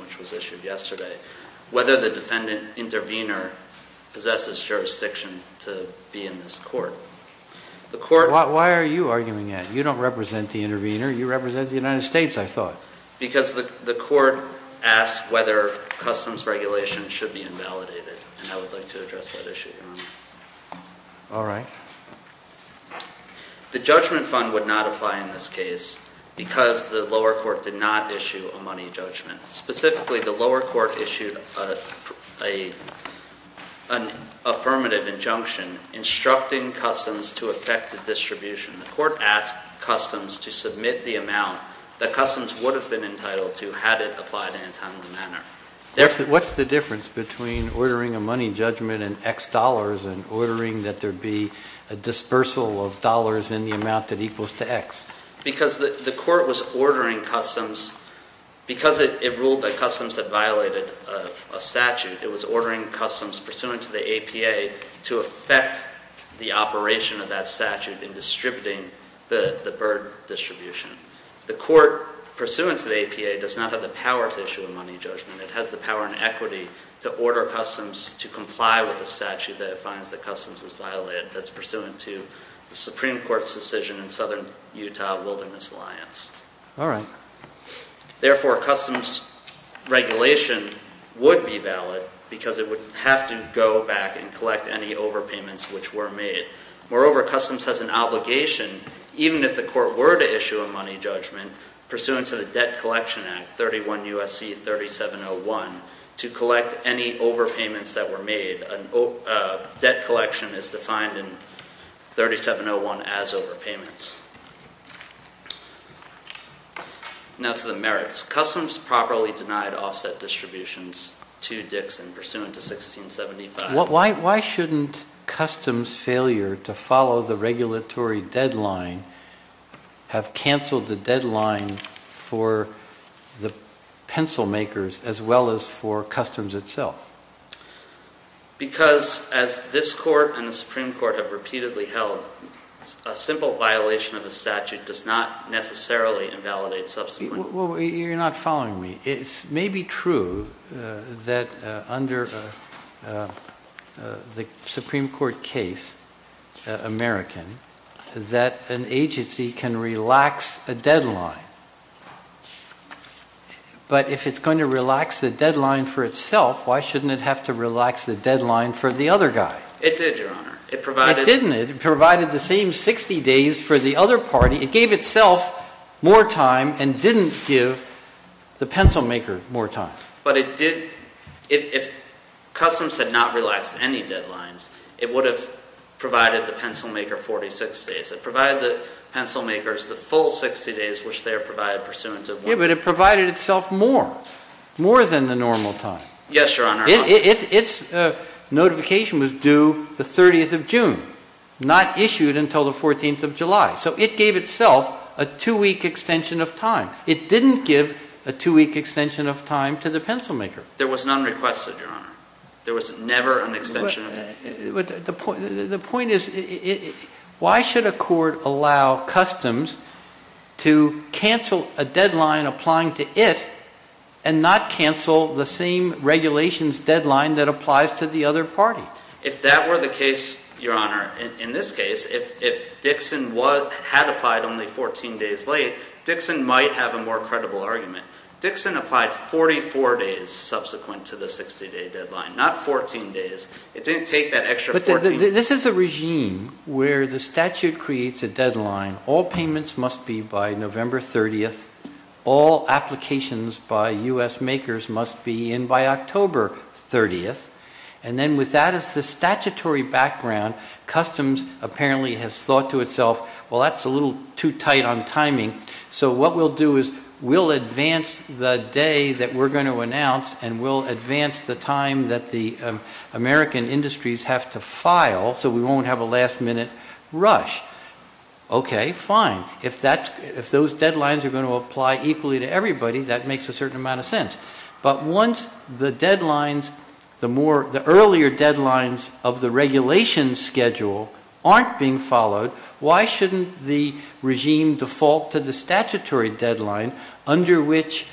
which was issued yesterday, whether the defendant intervener possesses jurisdiction to be in this court. Why are you arguing that? You don't represent the intervener. You represent the United States, I thought. Because the court asked whether customs regulations should be invalidated. And I would like to address that issue, Your Honor. All right. The judgment fund would not apply in this case because the lower court did not issue a money judgment. Specifically, the lower court issued an affirmative injunction instructing customs to affect the distribution. The court asked customs to submit the amount that customs would have been entitled to had it applied in a timely manner. What's the difference between ordering a money judgment in X dollars and ordering that there be a dispersal of dollars in the amount that equals to X? Because the court was ordering customs, because it ruled that customs had violated a statute, it was ordering customs pursuant to the APA to affect the operation of that statute in distributing the burden distribution. The court, pursuant to the APA, does not have the power to issue a money judgment. It has the power and equity to order customs to comply with the statute that it finds that customs has violated that's pursuant to the Supreme Court's decision in Southern Utah Wilderness Alliance. All right. Therefore, customs regulation would be valid because it would have to go back and collect any overpayments which were made. Moreover, customs has an obligation, even if the court were to issue a money judgment, pursuant to the Debt Collection Act 31 U.S.C. 3701, to collect any overpayments that were made. Debt collection is defined in 3701 as overpayments. Now to the merits. Customs properly denied offset distributions to Dixon pursuant to 1675. Why shouldn't customs failure to follow the regulatory deadline have canceled the deadline for the pencil makers, as well as for customs itself? Because as this court and the Supreme Court have repeatedly held, a simple violation of a statute does not necessarily invalidate subsequent. You're not following me. It may be true that under the Supreme Court case, American, that an agency can relax a deadline. But if it's going to relax the deadline for itself, why shouldn't it have to relax the deadline for the other guy? It did, Your Honor. It provided. It didn't. It provided the same 60 days for the other party. It gave itself more time and didn't give the pencil maker more time. But it did. If customs had not relaxed any deadlines, it would have provided the pencil maker 46 days. It provided the pencil makers the full 60 days, which they are provided pursuant to. Yeah, but it provided itself more, more than the normal time. Yes, Your Honor. Its notification was due the 30th of June, not issued until the 14th of July. So it gave itself a two-week extension of time. It didn't give a two-week extension of time to the pencil maker. There was none requested, Your Honor. There was never an extension of time. The point is, why should a court allow customs to cancel a deadline applying to it and not cancel the same regulations deadline that applies to the other party? If that were the case, Your Honor, in this case, if Dixon had applied only 14 days late, Dixon might have a more credible argument. Dixon applied 44 days subsequent to the 60-day deadline, not 14 days. It didn't take that extra 14 days. But this is a regime where the statute creates a deadline. All payments must be by November 30th. All applications by U.S. makers must be in by October 30th. And then with that as the statutory background, customs apparently has thought to itself, well, that's a little too tight on timing. So what we'll do is we'll advance the day that we're going to announce and we'll advance the time that the American industries have to file so we won't have a last-minute rush. Okay, fine. If those deadlines are going to apply equally to everybody, that makes a certain amount of sense. But once the deadlines, the earlier deadlines of the regulation schedule aren't being followed, why shouldn't the regime default to the statutory deadline under which,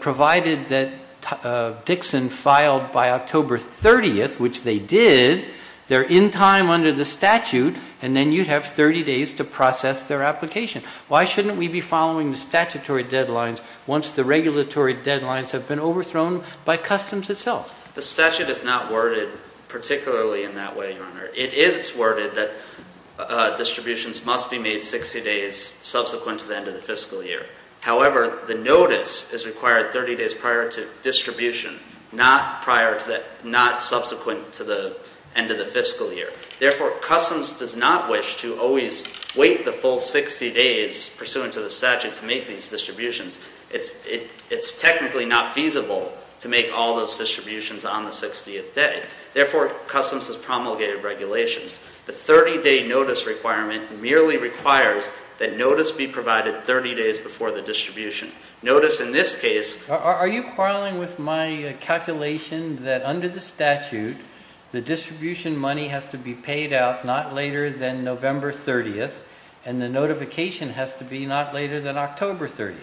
provided that Dixon filed by October 30th, which they did, they're in time under the statute and then you'd have 30 days to process their application. Why shouldn't we be following the statutory deadlines once the regulatory deadlines have been overthrown by customs itself? The statute is not worded particularly in that way, Your Honor. It is worded that distributions must be made 60 days subsequent to the end of the fiscal year. However, the notice is required 30 days prior to distribution, not subsequent to the end of the fiscal year. Therefore, customs does not wish to always wait the full 60 days pursuant to the statute to make these distributions. It's technically not feasible to make all those distributions on the 60th day. Therefore, customs has promulgated regulations. The 30-day notice requirement merely requires that notice be provided 30 days before the distribution. Are you quarreling with my calculation that under the statute, the distribution money has to be paid out not later than November 30th and the notification has to be not later than October 30th?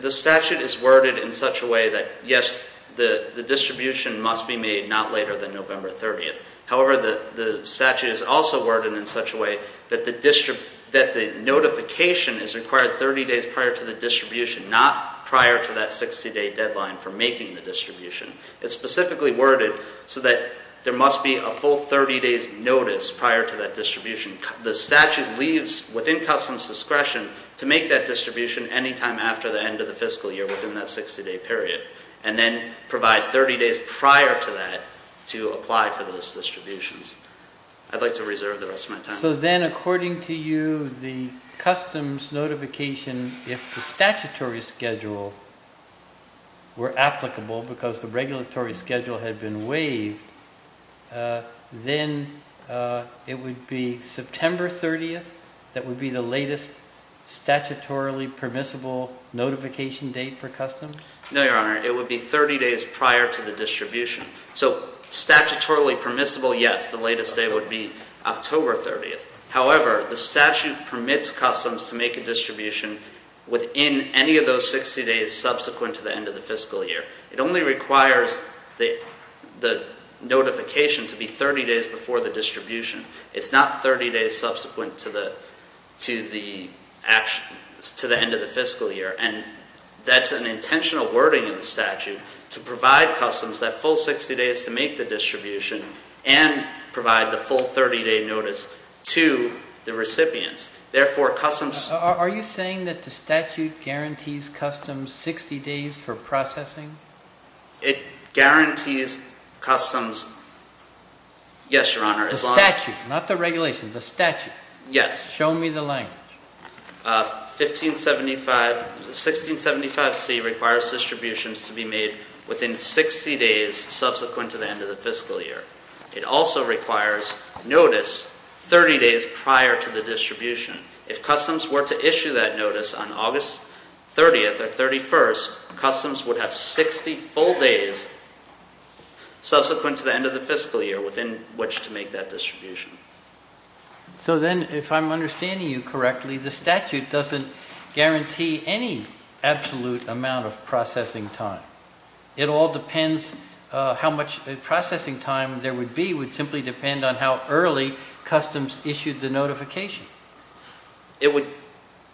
The statute is worded in such a way that, yes, the distribution must be made not later than November 30th. However, the statute is also worded in such a way that the notification is required 30 days prior to the distribution, not prior to that 60-day deadline for making the distribution. It's specifically worded so that there must be a full 30-days notice prior to that distribution. The statute leaves within customs' discretion to make that distribution any time after the end of the fiscal year within that 60-day period and then provide 30 days prior to that to apply for those distributions. I'd like to reserve the rest of my time. So then, according to you, the customs notification, if the statutory schedule were applicable because the regulatory schedule had been waived, then it would be September 30th that would be the latest statutorily permissible notification date for customs? No, Your Honor. It would be 30 days prior to the distribution. So statutorily permissible, yes, the latest date would be October 30th. However, the statute permits customs to make a distribution within any of those 60 days subsequent to the end of the fiscal year. It only requires the notification to be 30 days before the distribution. It's not 30 days subsequent to the end of the fiscal year. And that's an intentional wording in the statute to provide customs that full 60 days to make the distribution and provide the full 30-day notice to the recipients. Are you saying that the statute guarantees customs 60 days for processing? It guarantees customs, yes, Your Honor. The statute, not the regulation, the statute. Yes. Show me the language. 1675C requires distributions to be made within 60 days subsequent to the end of the fiscal year. It also requires notice 30 days prior to the distribution. If customs were to issue that notice on August 30th or 31st, customs would have 60 full days subsequent to the end of the fiscal year within which to make that distribution. So then, if I'm understanding you correctly, the statute doesn't guarantee any absolute amount of processing time. It all depends how much processing time there would be. It would simply depend on how early customs issued the notification.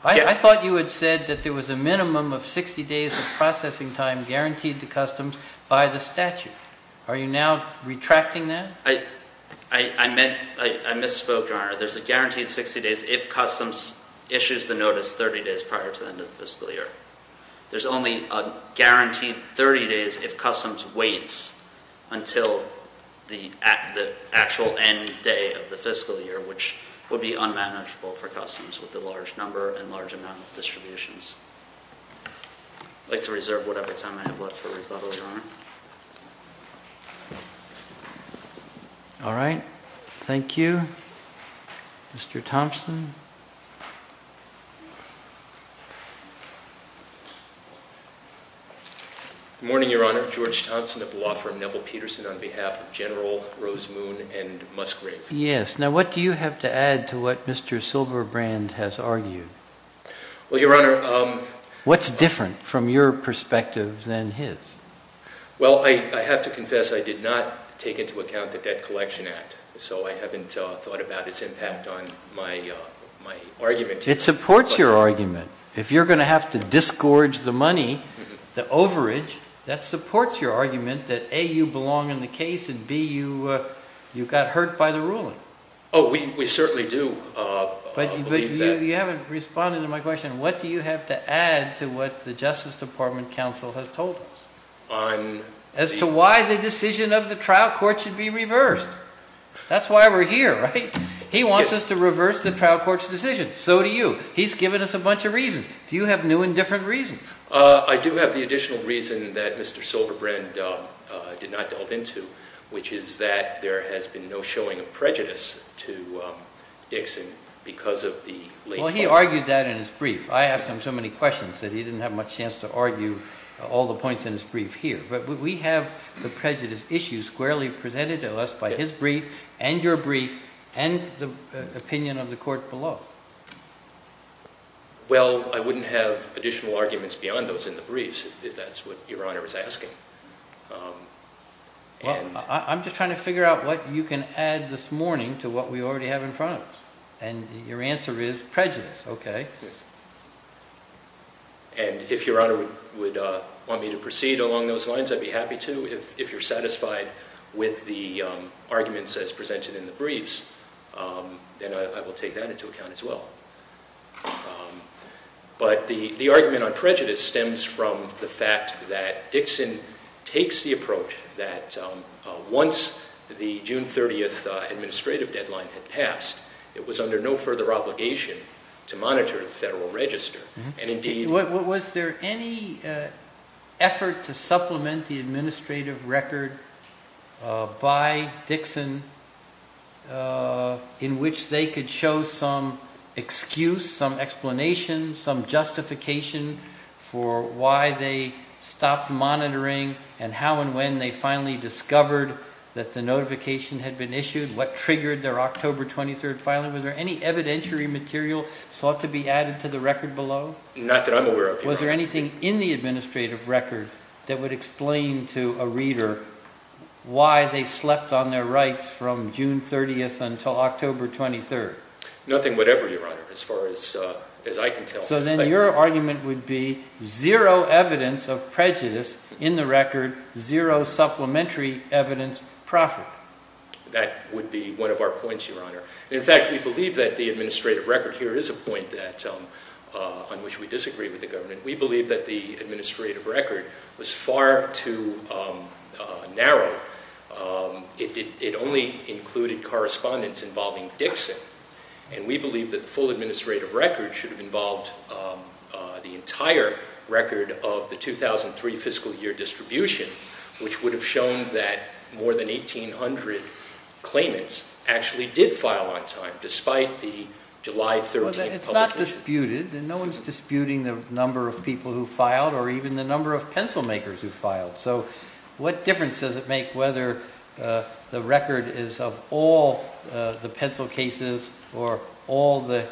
I thought you had said that there was a minimum of 60 days of processing time guaranteed to customs by the statute. Are you now retracting that? I misspoke, Your Honor. There's a guaranteed 60 days if customs issues the notice 30 days prior to the end of the fiscal year. There's only a guaranteed 30 days if customs waits until the actual end day of the fiscal year, which would be unmanageable for customs with the large number and large amount of distributions. I'd like to reserve whatever time I have left for rebuttal, Your Honor. All right. Thank you. Mr. Thompson? Good morning, Your Honor. George Thompson of the law firm Neville-Peterson on behalf of General Rose Moon and Musgrave. Yes. Now, what do you have to add to what Mr. Silverbrand has argued? Well, Your Honor— What's different from your perspective than his? Well, I have to confess I did not take into account the Debt Collection Act, so I haven't thought about its impact on my argument. It supports your argument. If you're going to have to disgorge the money, the overage, that supports your argument that, A, you belong in the case, and, B, you got hurt by the ruling. Oh, we certainly do believe that. You haven't responded to my question. What do you have to add to what the Justice Department counsel has told us? As to why the decision of the trial court should be reversed. That's why we're here, right? He wants us to reverse the trial court's decision. So do you. He's given us a bunch of reasons. Do you have new and different reasons? I do have the additional reason that Mr. Silverbrand did not delve into, which is that there has been no showing of prejudice to Dixon because of the— Well, he argued that in his brief. I asked him so many questions that he didn't have much chance to argue all the points in his brief here. But we have the prejudice issues squarely presented to us by his brief and your brief and the opinion of the court below. Well, I wouldn't have additional arguments beyond those in the briefs, if that's what Your Honor is asking. Well, I'm just trying to figure out what you can add this morning to what we already have in front of us. And your answer is prejudice. Okay. And if Your Honor would want me to proceed along those lines, I'd be happy to. If you're satisfied with the arguments as presented in the briefs, then I will take that into account as well. But the argument on prejudice stems from the fact that Dixon takes the approach that once the June 30th administrative deadline had passed, it was under no further obligation to monitor the Federal Register. Was there any effort to supplement the administrative record by Dixon in which they could show some excuse, some explanation, some justification for why they stopped monitoring and how and when they finally discovered that the notification had been issued? What triggered their October 23rd filing? Your Honor, was there any evidentiary material sought to be added to the record below? Not that I'm aware of, Your Honor. Was there anything in the administrative record that would explain to a reader why they slept on their rights from June 30th until October 23rd? Nothing whatever, Your Honor, as far as I can tell. So then your argument would be zero evidence of prejudice in the record, zero supplementary evidence proffered. That would be one of our points, Your Honor. In fact, we believe that the administrative record here is a point on which we disagree with the government. We believe that the administrative record was far too narrow. It only included correspondence involving Dixon. And we believe that the full administrative record should have involved the entire record of the 2003 fiscal year distribution, which would have shown that more than 1,800 claimants actually did file on time, despite the July 13th publication. It's not disputed, and no one's disputing the number of people who filed or even the number of pencil makers who filed. So what difference does it make whether the record is of all the pencil cases or all the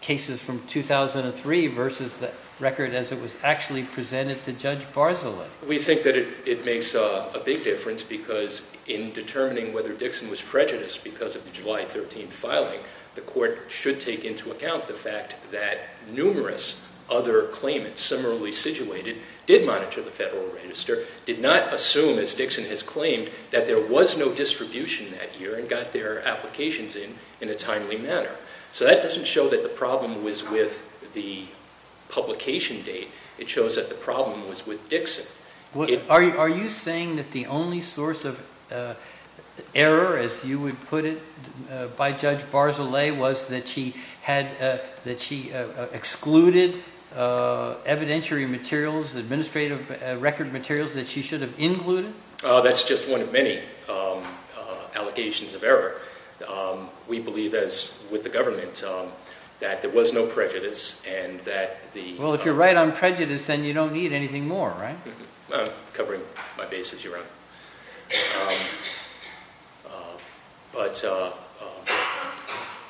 cases from 2003 versus the record as it was actually presented to Judge Barzilai? We think that it makes a big difference because in determining whether Dixon was prejudiced because of the July 13th filing, the court should take into account the fact that numerous other claimants similarly situated did monitor the Federal Register, did not assume, as Dixon has claimed, that there was no distribution that year and got their applications in in a timely manner. So that doesn't show that the problem was with the publication date. It shows that the problem was with Dixon. Are you saying that the only source of error, as you would put it by Judge Barzilai, was that she excluded evidentiary materials, administrative record materials that she should have included? That's just one of many allegations of error. We believe, as with the government, that there was no prejudice and that the... Well, if you're right on prejudice, then you don't need anything more, right? I'm covering my base as your Honor. But,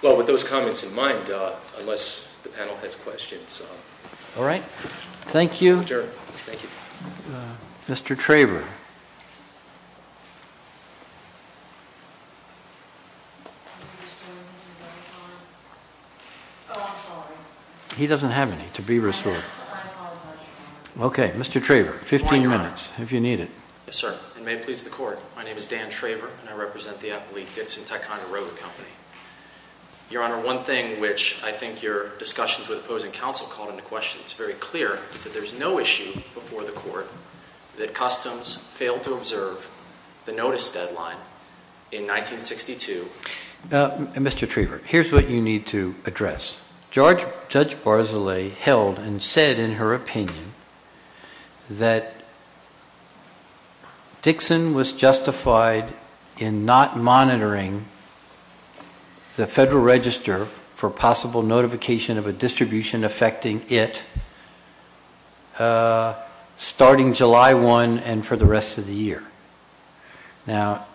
well, with those comments in mind, unless the panel has questions... All right. Thank you. Thank you. Mr. Traver. Oh, I'm sorry. He doesn't have any to be restored. I apologize. Okay. Mr. Traver, 15 minutes, if you need it. Yes, sir. And may it please the Court, my name is Dan Traver and I represent the Appolite Dixon Teconda Road Company. Your Honor, one thing which I think your discussions with opposing counsel called into question, it's very clear, failed to observe the notice deadline in 1962. Mr. Traver, here's what you need to address. Judge Barzilay held and said in her opinion that Dixon was justified in not monitoring the Federal Register for possible notification of a distribution affecting it starting July 1 and for the rest of the year. Now,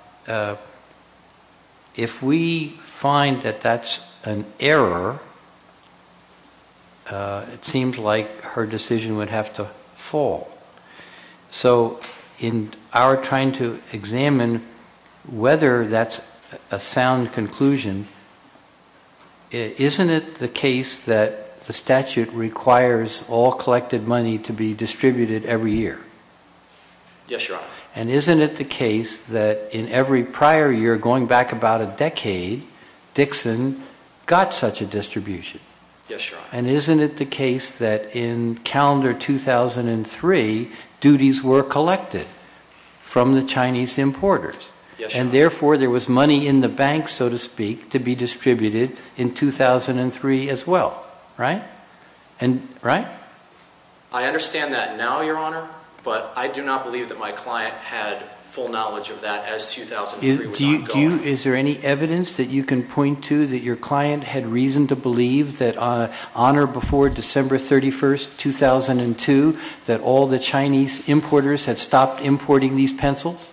if we find that that's an error, it seems like her decision would have to fall. So in our trying to examine whether that's a sound conclusion, isn't it the case that the statute requires all collected money to be distributed every year? Yes, your Honor. And isn't it the case that in every prior year, going back about a decade, Dixon got such a distribution? Yes, your Honor. And isn't it the case that in calendar 2003, duties were collected from the Chinese importers? Yes, your Honor. And therefore, there was money in the bank, so to speak, to be distributed in 2003 as well, right? I understand that now, your Honor, but I do not believe that my client had full knowledge of that as 2003 was ongoing. Well, is there any evidence that you can point to that your client had reason to believe that on or before December 31, 2002, that all the Chinese importers had stopped importing these pencils?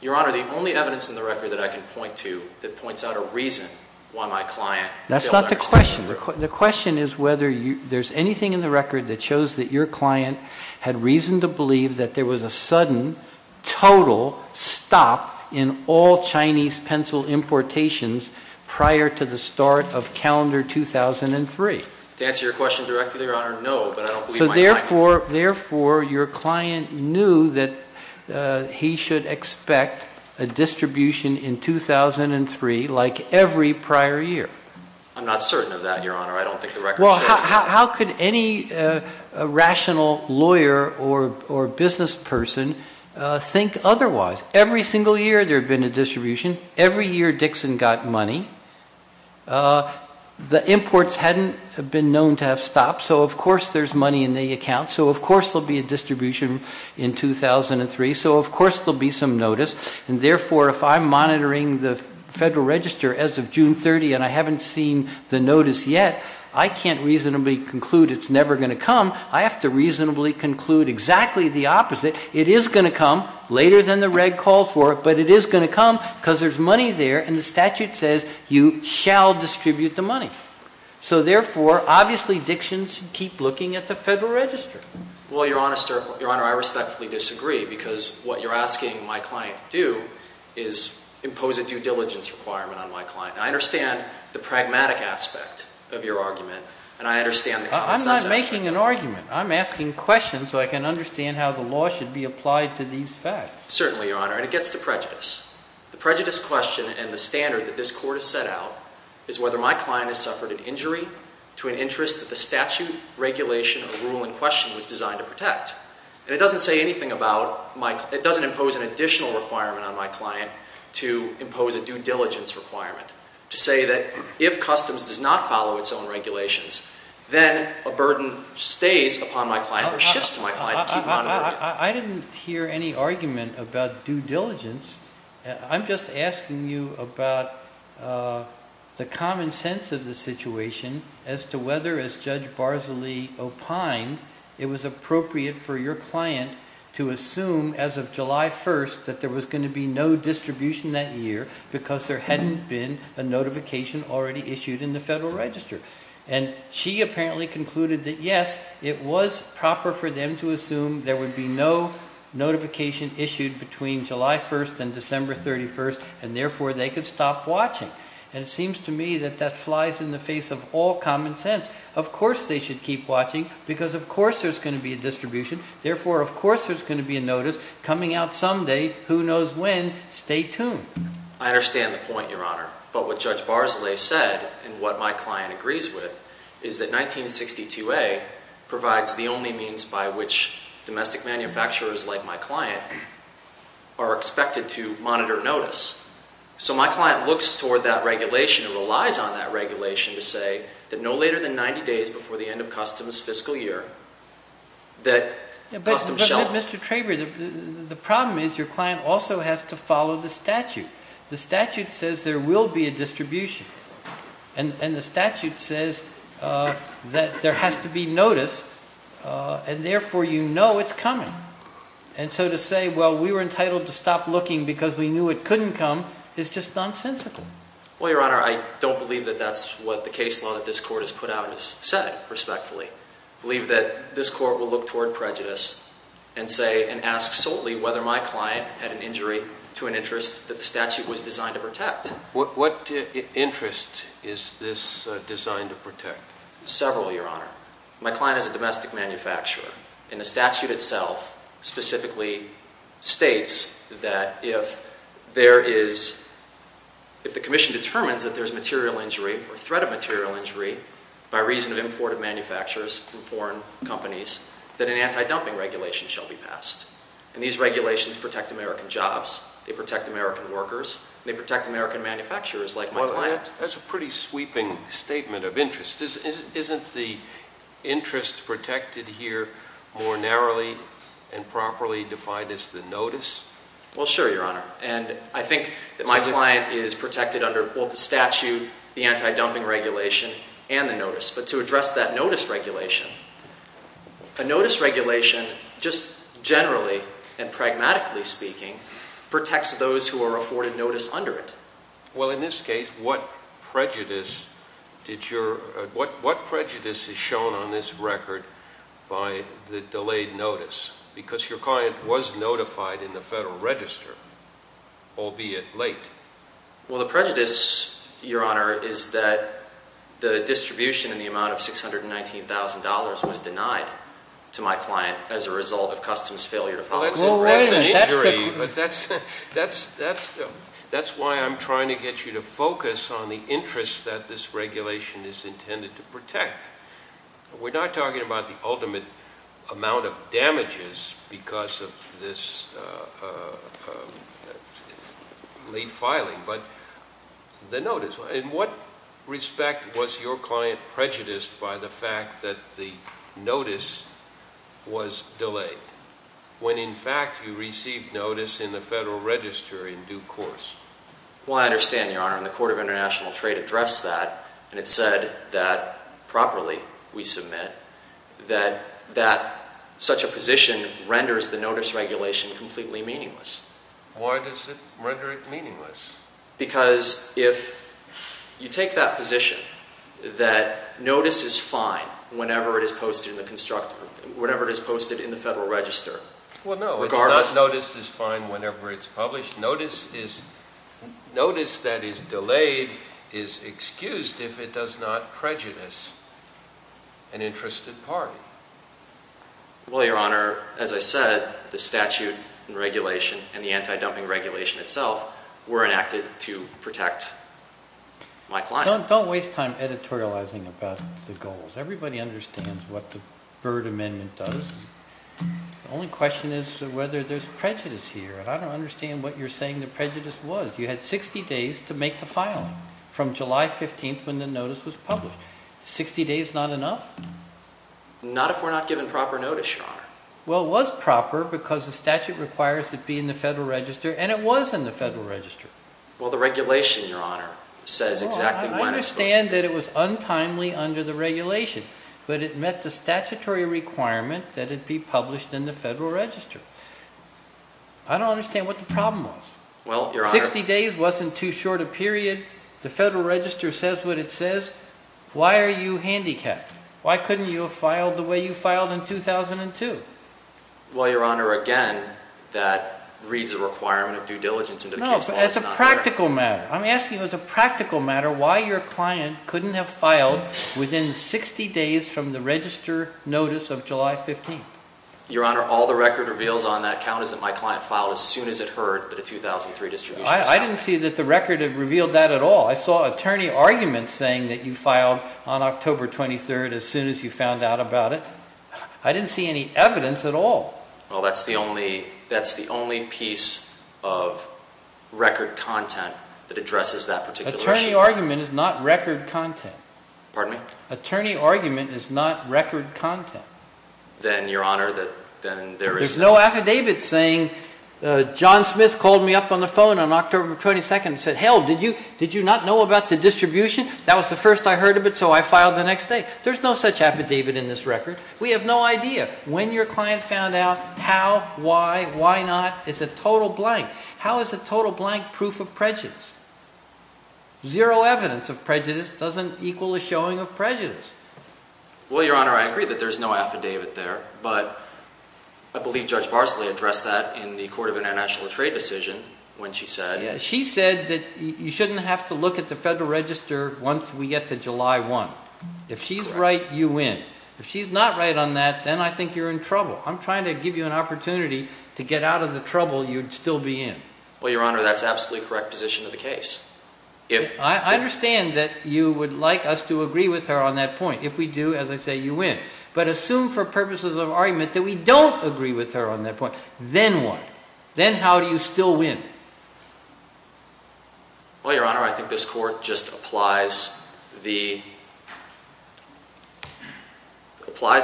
Your Honor, the only evidence in the record that I can point to that points out a reason why my client failed to understand it was true. That's not the question. The question is whether there's anything in the record that shows that your client had reason to believe that there was a sudden, total stop in all Chinese pencil importations prior to the start of calendar 2003. To answer your question directly, your Honor, no, but I don't believe my client did. So therefore, your client knew that he should expect a distribution in 2003 like every prior year? I'm not certain of that, your Honor. I don't think the record shows that. Well, how could any rational lawyer or business person think otherwise? Every single year there had been a distribution. Every year Dixon got money. The imports hadn't been known to have stopped, so of course there's money in the account. So of course there'll be a distribution in 2003. So of course there'll be some notice. And therefore, if I'm monitoring the Federal Register as of June 30 and I haven't seen the notice yet, I can't reasonably conclude it's never going to come. I have to reasonably conclude exactly the opposite. It is going to come later than the reg calls for it, but it is going to come because there's money there, and the statute says you shall distribute the money. So therefore, obviously Dixon should keep looking at the Federal Register. Well, your Honor, I respectfully disagree because what you're asking my client to do is impose a due diligence requirement on my client. I understand the pragmatic aspect of your argument, and I understand the consensus. I'm not making an argument. I'm asking questions so I can understand how the law should be applied to these facts. Certainly, your Honor. And it gets to prejudice. The prejudice question and the standard that this Court has set out is whether my client has suffered an injury to an interest that the statute, regulation, or rule in question was designed to protect. And it doesn't say anything about my client. It doesn't impose an additional requirement on my client to impose a due diligence requirement, to say that if customs does not follow its own regulations, then a burden stays upon my client or shifts to my client to keep monitoring. I didn't hear any argument about due diligence. I'm just asking you about the common sense of the situation as to whether, as Judge Barzali opined, it was appropriate for your client to assume as of July 1st that there was going to be no distribution that year because there hadn't been a notification already issued in the Federal Register. And she apparently concluded that, yes, it was proper for them to assume there would be no notification issued between July 1st and December 31st, and therefore they could stop watching. And it seems to me that that flies in the face of all common sense. Of course they should keep watching because, of course, there's going to be a distribution. Therefore, of course, there's going to be a notice coming out someday, who knows when. Stay tuned. I understand the point, your Honor. But what Judge Barzali said and what my client agrees with is that 1962A provides the only means by which domestic manufacturers like my client are expected to monitor notice. So my client looks toward that regulation and relies on that regulation to say that no later than 90 days before the end of customs' fiscal year that customs shall not. But, Mr. Traber, the problem is your client also has to follow the statute. The statute says there will be a distribution. And the statute says that there has to be notice, and therefore you know it's coming. And so to say, well, we were entitled to stop looking because we knew it couldn't come is just nonsensical. Well, your Honor, I don't believe that that's what the case law that this Court has put out has said, respectfully. I believe that this Court will look toward prejudice and say and ask solely whether my client had an injury to an interest that the statute was designed to protect. What interest is this designed to protect? Several, your Honor. My client is a domestic manufacturer. And the statute itself specifically states that if there is, if the Commission determines that there's material injury or threat of material injury by reason of imported manufacturers from foreign companies, that an anti-dumping regulation shall be passed. And these regulations protect American jobs. They protect American workers. They protect American manufacturers like my client. That's a pretty sweeping statement of interest. Isn't the interest protected here more narrowly and properly defined as the notice? Well, sure, your Honor. And I think that my client is protected under both the statute, the anti-dumping regulation, and the notice. But to address that notice regulation, a notice regulation just generally and pragmatically speaking protects those who are afforded notice under it. Well, in this case, what prejudice did your, what prejudice is shown on this record by the delayed notice? Because your client was notified in the Federal Register, albeit late. Well, the prejudice, your Honor, is that the distribution in the amount of $619,000 was denied to my client as a result of customs failure to follow. That's an injury. That's why I'm trying to get you to focus on the interest that this regulation is intended to protect. We're not talking about the ultimate amount of damages because of this late filing, but the notice. In what respect was your client prejudiced by the fact that the notice was delayed? When, in fact, you received notice in the Federal Register in due course? Well, I understand, your Honor. And the Court of International Trade addressed that, and it said that properly, we submit, that such a position renders the notice regulation completely meaningless. Why does it render it meaningless? Because if you take that position, that notice is fine whenever it is posted in the Constructor, whenever it is posted in the Federal Register. Well, no, notice is fine whenever it's published. Notice that is delayed is excused if it does not prejudice an interested party. Well, your Honor, as I said, the statute and regulation and the anti-dumping regulation itself were enacted to protect my client. Don't waste time editorializing about the goals. Everybody understands what the Byrd Amendment does. The only question is whether there's prejudice here, and I don't understand what you're saying the prejudice was. You had 60 days to make the filing from July 15th when the notice was published. 60 days not enough? Not if we're not given proper notice, your Honor. Well, it was proper because the statute requires it be in the Federal Register, and it was in the Federal Register. Well, the regulation, your Honor, says exactly when it's supposed to be. I understand that it was untimely under the regulation, but it met the statutory requirement that it be published in the Federal Register. I don't understand what the problem was. 60 days wasn't too short a period. The Federal Register says what it says. Why are you handicapped? Why couldn't you have filed the way you filed in 2002? Well, your Honor, again, that reads a requirement of due diligence into the case law. No, but that's a practical matter. I'm asking as a practical matter why your client couldn't have filed within 60 days from the Register notice of July 15th. Your Honor, all the record reveals on that count is that my client filed as soon as it heard that a 2003 distribution was counted. I didn't see that the record revealed that at all. I saw attorney arguments saying that you filed on October 23rd as soon as you found out about it. I didn't see any evidence at all. Well, that's the only piece of record content that addresses that particular issue. Attorney argument is not record content. Pardon me? Attorney argument is not record content. Then, your Honor, there is no... There's no affidavit saying John Smith called me up on the phone on October 22nd and said, hell, did you not know about the distribution? That was the first I heard of it, so I filed the next day. There's no such affidavit in this record. We have no idea. When your client found out how, why, why not is a total blank. How is a total blank proof of prejudice? Zero evidence of prejudice doesn't equal a showing of prejudice. Well, your Honor, I agree that there's no affidavit there, but I believe Judge Barsley addressed that in the Court of International Trade decision when she said... She said that you shouldn't have to look at the Federal Register once we get to July 1. If she's right, you win. If she's not right on that, then I think you're in trouble. I'm trying to give you an opportunity to get out of the trouble you'd still be in. Well, your Honor, that's absolutely correct position of the case. I understand that you would like us to agree with her on that point. If we do, as I say, you win. But assume for purposes of argument that we don't agree with her on that point, then what? Then how do you still win? Well, your Honor, I think this Court just applies the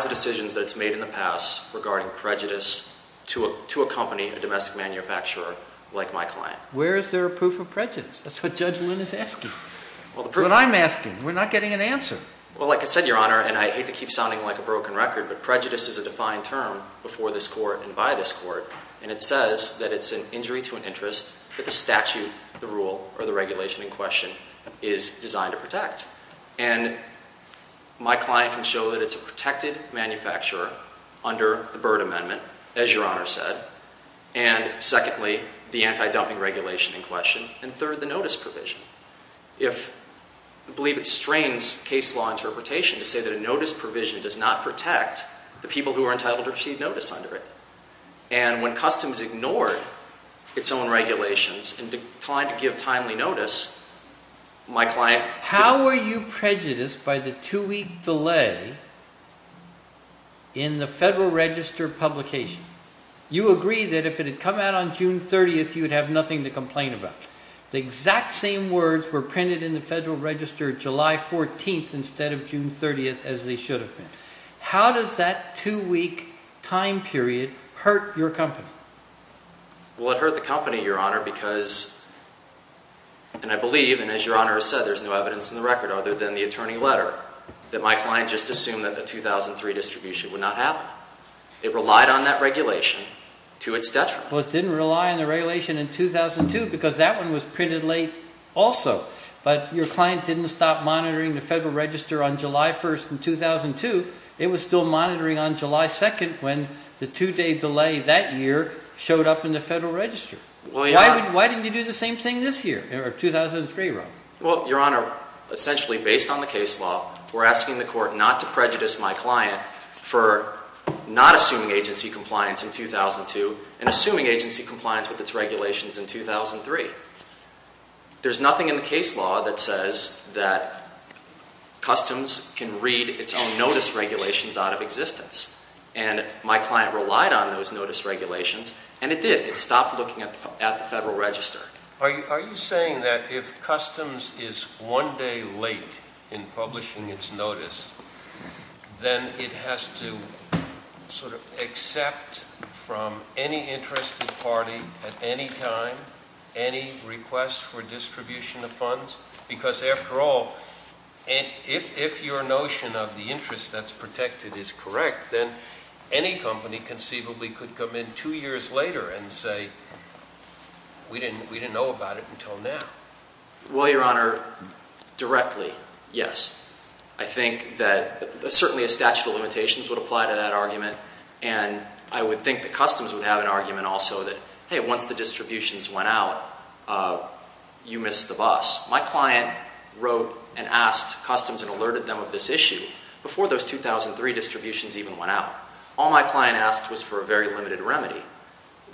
decisions that it's made in the past regarding prejudice to a company, a domestic manufacturer like my client. Where is there a proof of prejudice? That's what Judge Lynn is asking. That's what I'm asking. We're not getting an answer. Well, like I said, your Honor, and I hate to keep sounding like a broken record, but prejudice is a defined term before this Court and by this Court, and it says that it's an injury to an interest that the statute, the rule, or the regulation in question is designed to protect. And my client can show that it's a protected manufacturer under the Byrd Amendment, as your Honor said, and secondly, the anti-dumping regulation in question, and third, the notice provision. I believe it strains case law interpretation to say that a notice provision does not protect the people who are entitled to receive notice under it. And when customs ignored its own regulations and declined to give timely notice, my client— How are you prejudiced by the two-week delay in the Federal Register publication? Judge, you agreed that if it had come out on June 30th, you would have nothing to complain about. The exact same words were printed in the Federal Register July 14th instead of June 30th, as they should have been. How does that two-week time period hurt your company? Well, it hurt the company, your Honor, because—and I believe, and as your Honor has said, there's no evidence in the record other than the attorney letter that my client just assumed that the 2003 distribution would not happen. It relied on that regulation to its detriment. Well, it didn't rely on the regulation in 2002 because that one was printed late also. But your client didn't stop monitoring the Federal Register on July 1st in 2002. It was still monitoring on July 2nd when the two-day delay that year showed up in the Federal Register. Well, your Honor— Why didn't you do the same thing this year, or 2003, Robert? Well, your Honor, essentially based on the case law, we're asking the Court not to prejudice my client for not assuming agency compliance in 2002 and assuming agency compliance with its regulations in 2003. There's nothing in the case law that says that customs can read its own notice regulations out of existence. And my client relied on those notice regulations, and it did. It stopped looking at the Federal Register. Are you saying that if customs is one day late in publishing its notice, then it has to sort of accept from any interested party at any time any request for distribution of funds? Because after all, if your notion of the interest that's protected is correct, then any company conceivably could come in two years later and say, we didn't know about it until now. Well, your Honor, directly, yes. I think that certainly a statute of limitations would apply to that argument, and I would think that customs would have an argument also that, hey, once the distributions went out, you missed the bus. My client wrote and asked customs and alerted them of this issue before those 2003 distributions even went out. All my client asked was for a very limited remedy,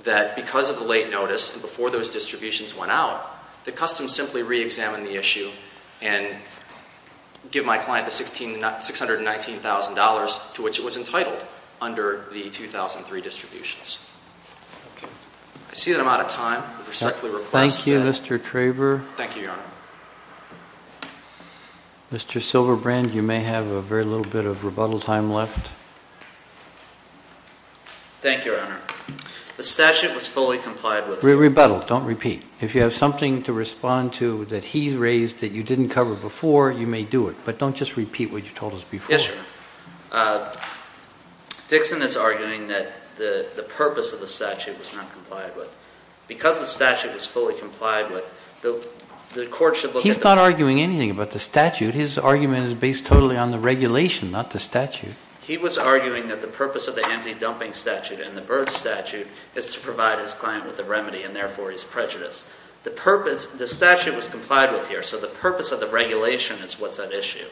that because of the late notice and before those distributions went out, that customs simply reexamine the issue and give my client the $619,000 to which it was entitled under the 2003 distributions. Okay. I see that I'm out of time. I respectfully request that. Thank you, Mr. Traver. Thank you, Your Honor. Mr. Silverbrand, you may have a very little bit of rebuttal time left. Thank you, Your Honor. The statute was fully complied with. Rebuttal. Don't repeat. If you have something to respond to that he raised that you didn't cover before, you may do it. But don't just repeat what you told us before. Yes, Your Honor. Dixon is arguing that the purpose of the statute was not complied with. Because the statute was fully complied with, the court should look at the- He's not arguing anything about the statute. His argument is based totally on the regulation, not the statute. He was arguing that the purpose of the anti-dumping statute and the birth statute is to provide his client with a remedy, and therefore he's prejudiced. The statute was complied with here, so the purpose of the regulation is what's at issue.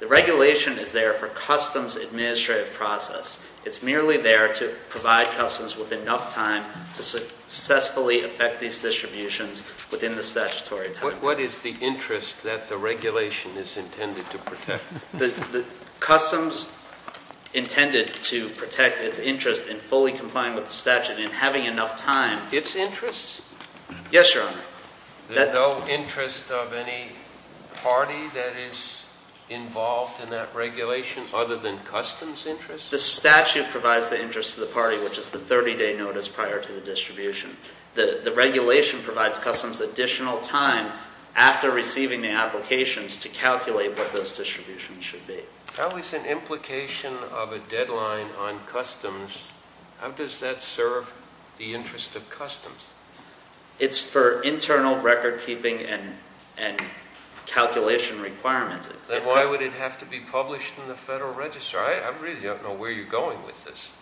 The regulation is there for customs administrative process. It's merely there to provide customs with enough time to successfully affect these distributions within the statutory time. What is the interest that the regulation is intended to protect? Customs intended to protect its interest in fully complying with the statute and having enough time- Its interest? Yes, Your Honor. There's no interest of any party that is involved in that regulation other than customs' interest? The statute provides the interest of the party, which is the 30-day notice prior to the distribution. The regulation provides customs additional time after receiving the applications to calculate what those distributions should be. How is an implication of a deadline on customs, how does that serve the interest of customs? It's for internal record keeping and calculation requirements. Then why would it have to be published in the Federal Register? I really don't know where you're going with this.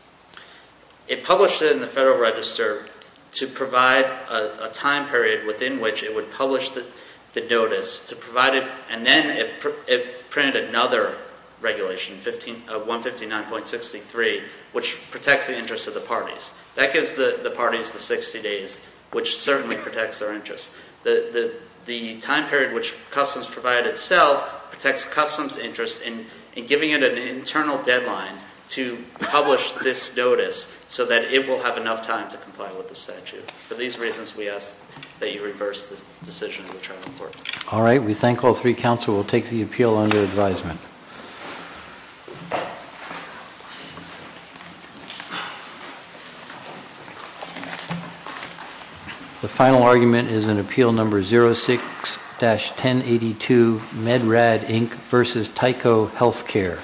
It published it in the Federal Register to provide a time period within which it would publish the notice to provide it, and then it printed another regulation, 159.63, which protects the interest of the parties. That gives the parties the 60 days, which certainly protects their interest. The time period which customs provided itself protects customs' interest in giving it an internal deadline to publish this notice so that it will have enough time to comply with the statute. For these reasons, we ask that you reverse this decision in the trial court. All right, we thank all three. Counsel will take the appeal under advisement. The final argument is in Appeal No. 06-1082, MedRAD Inc. v. Tyco Healthcare.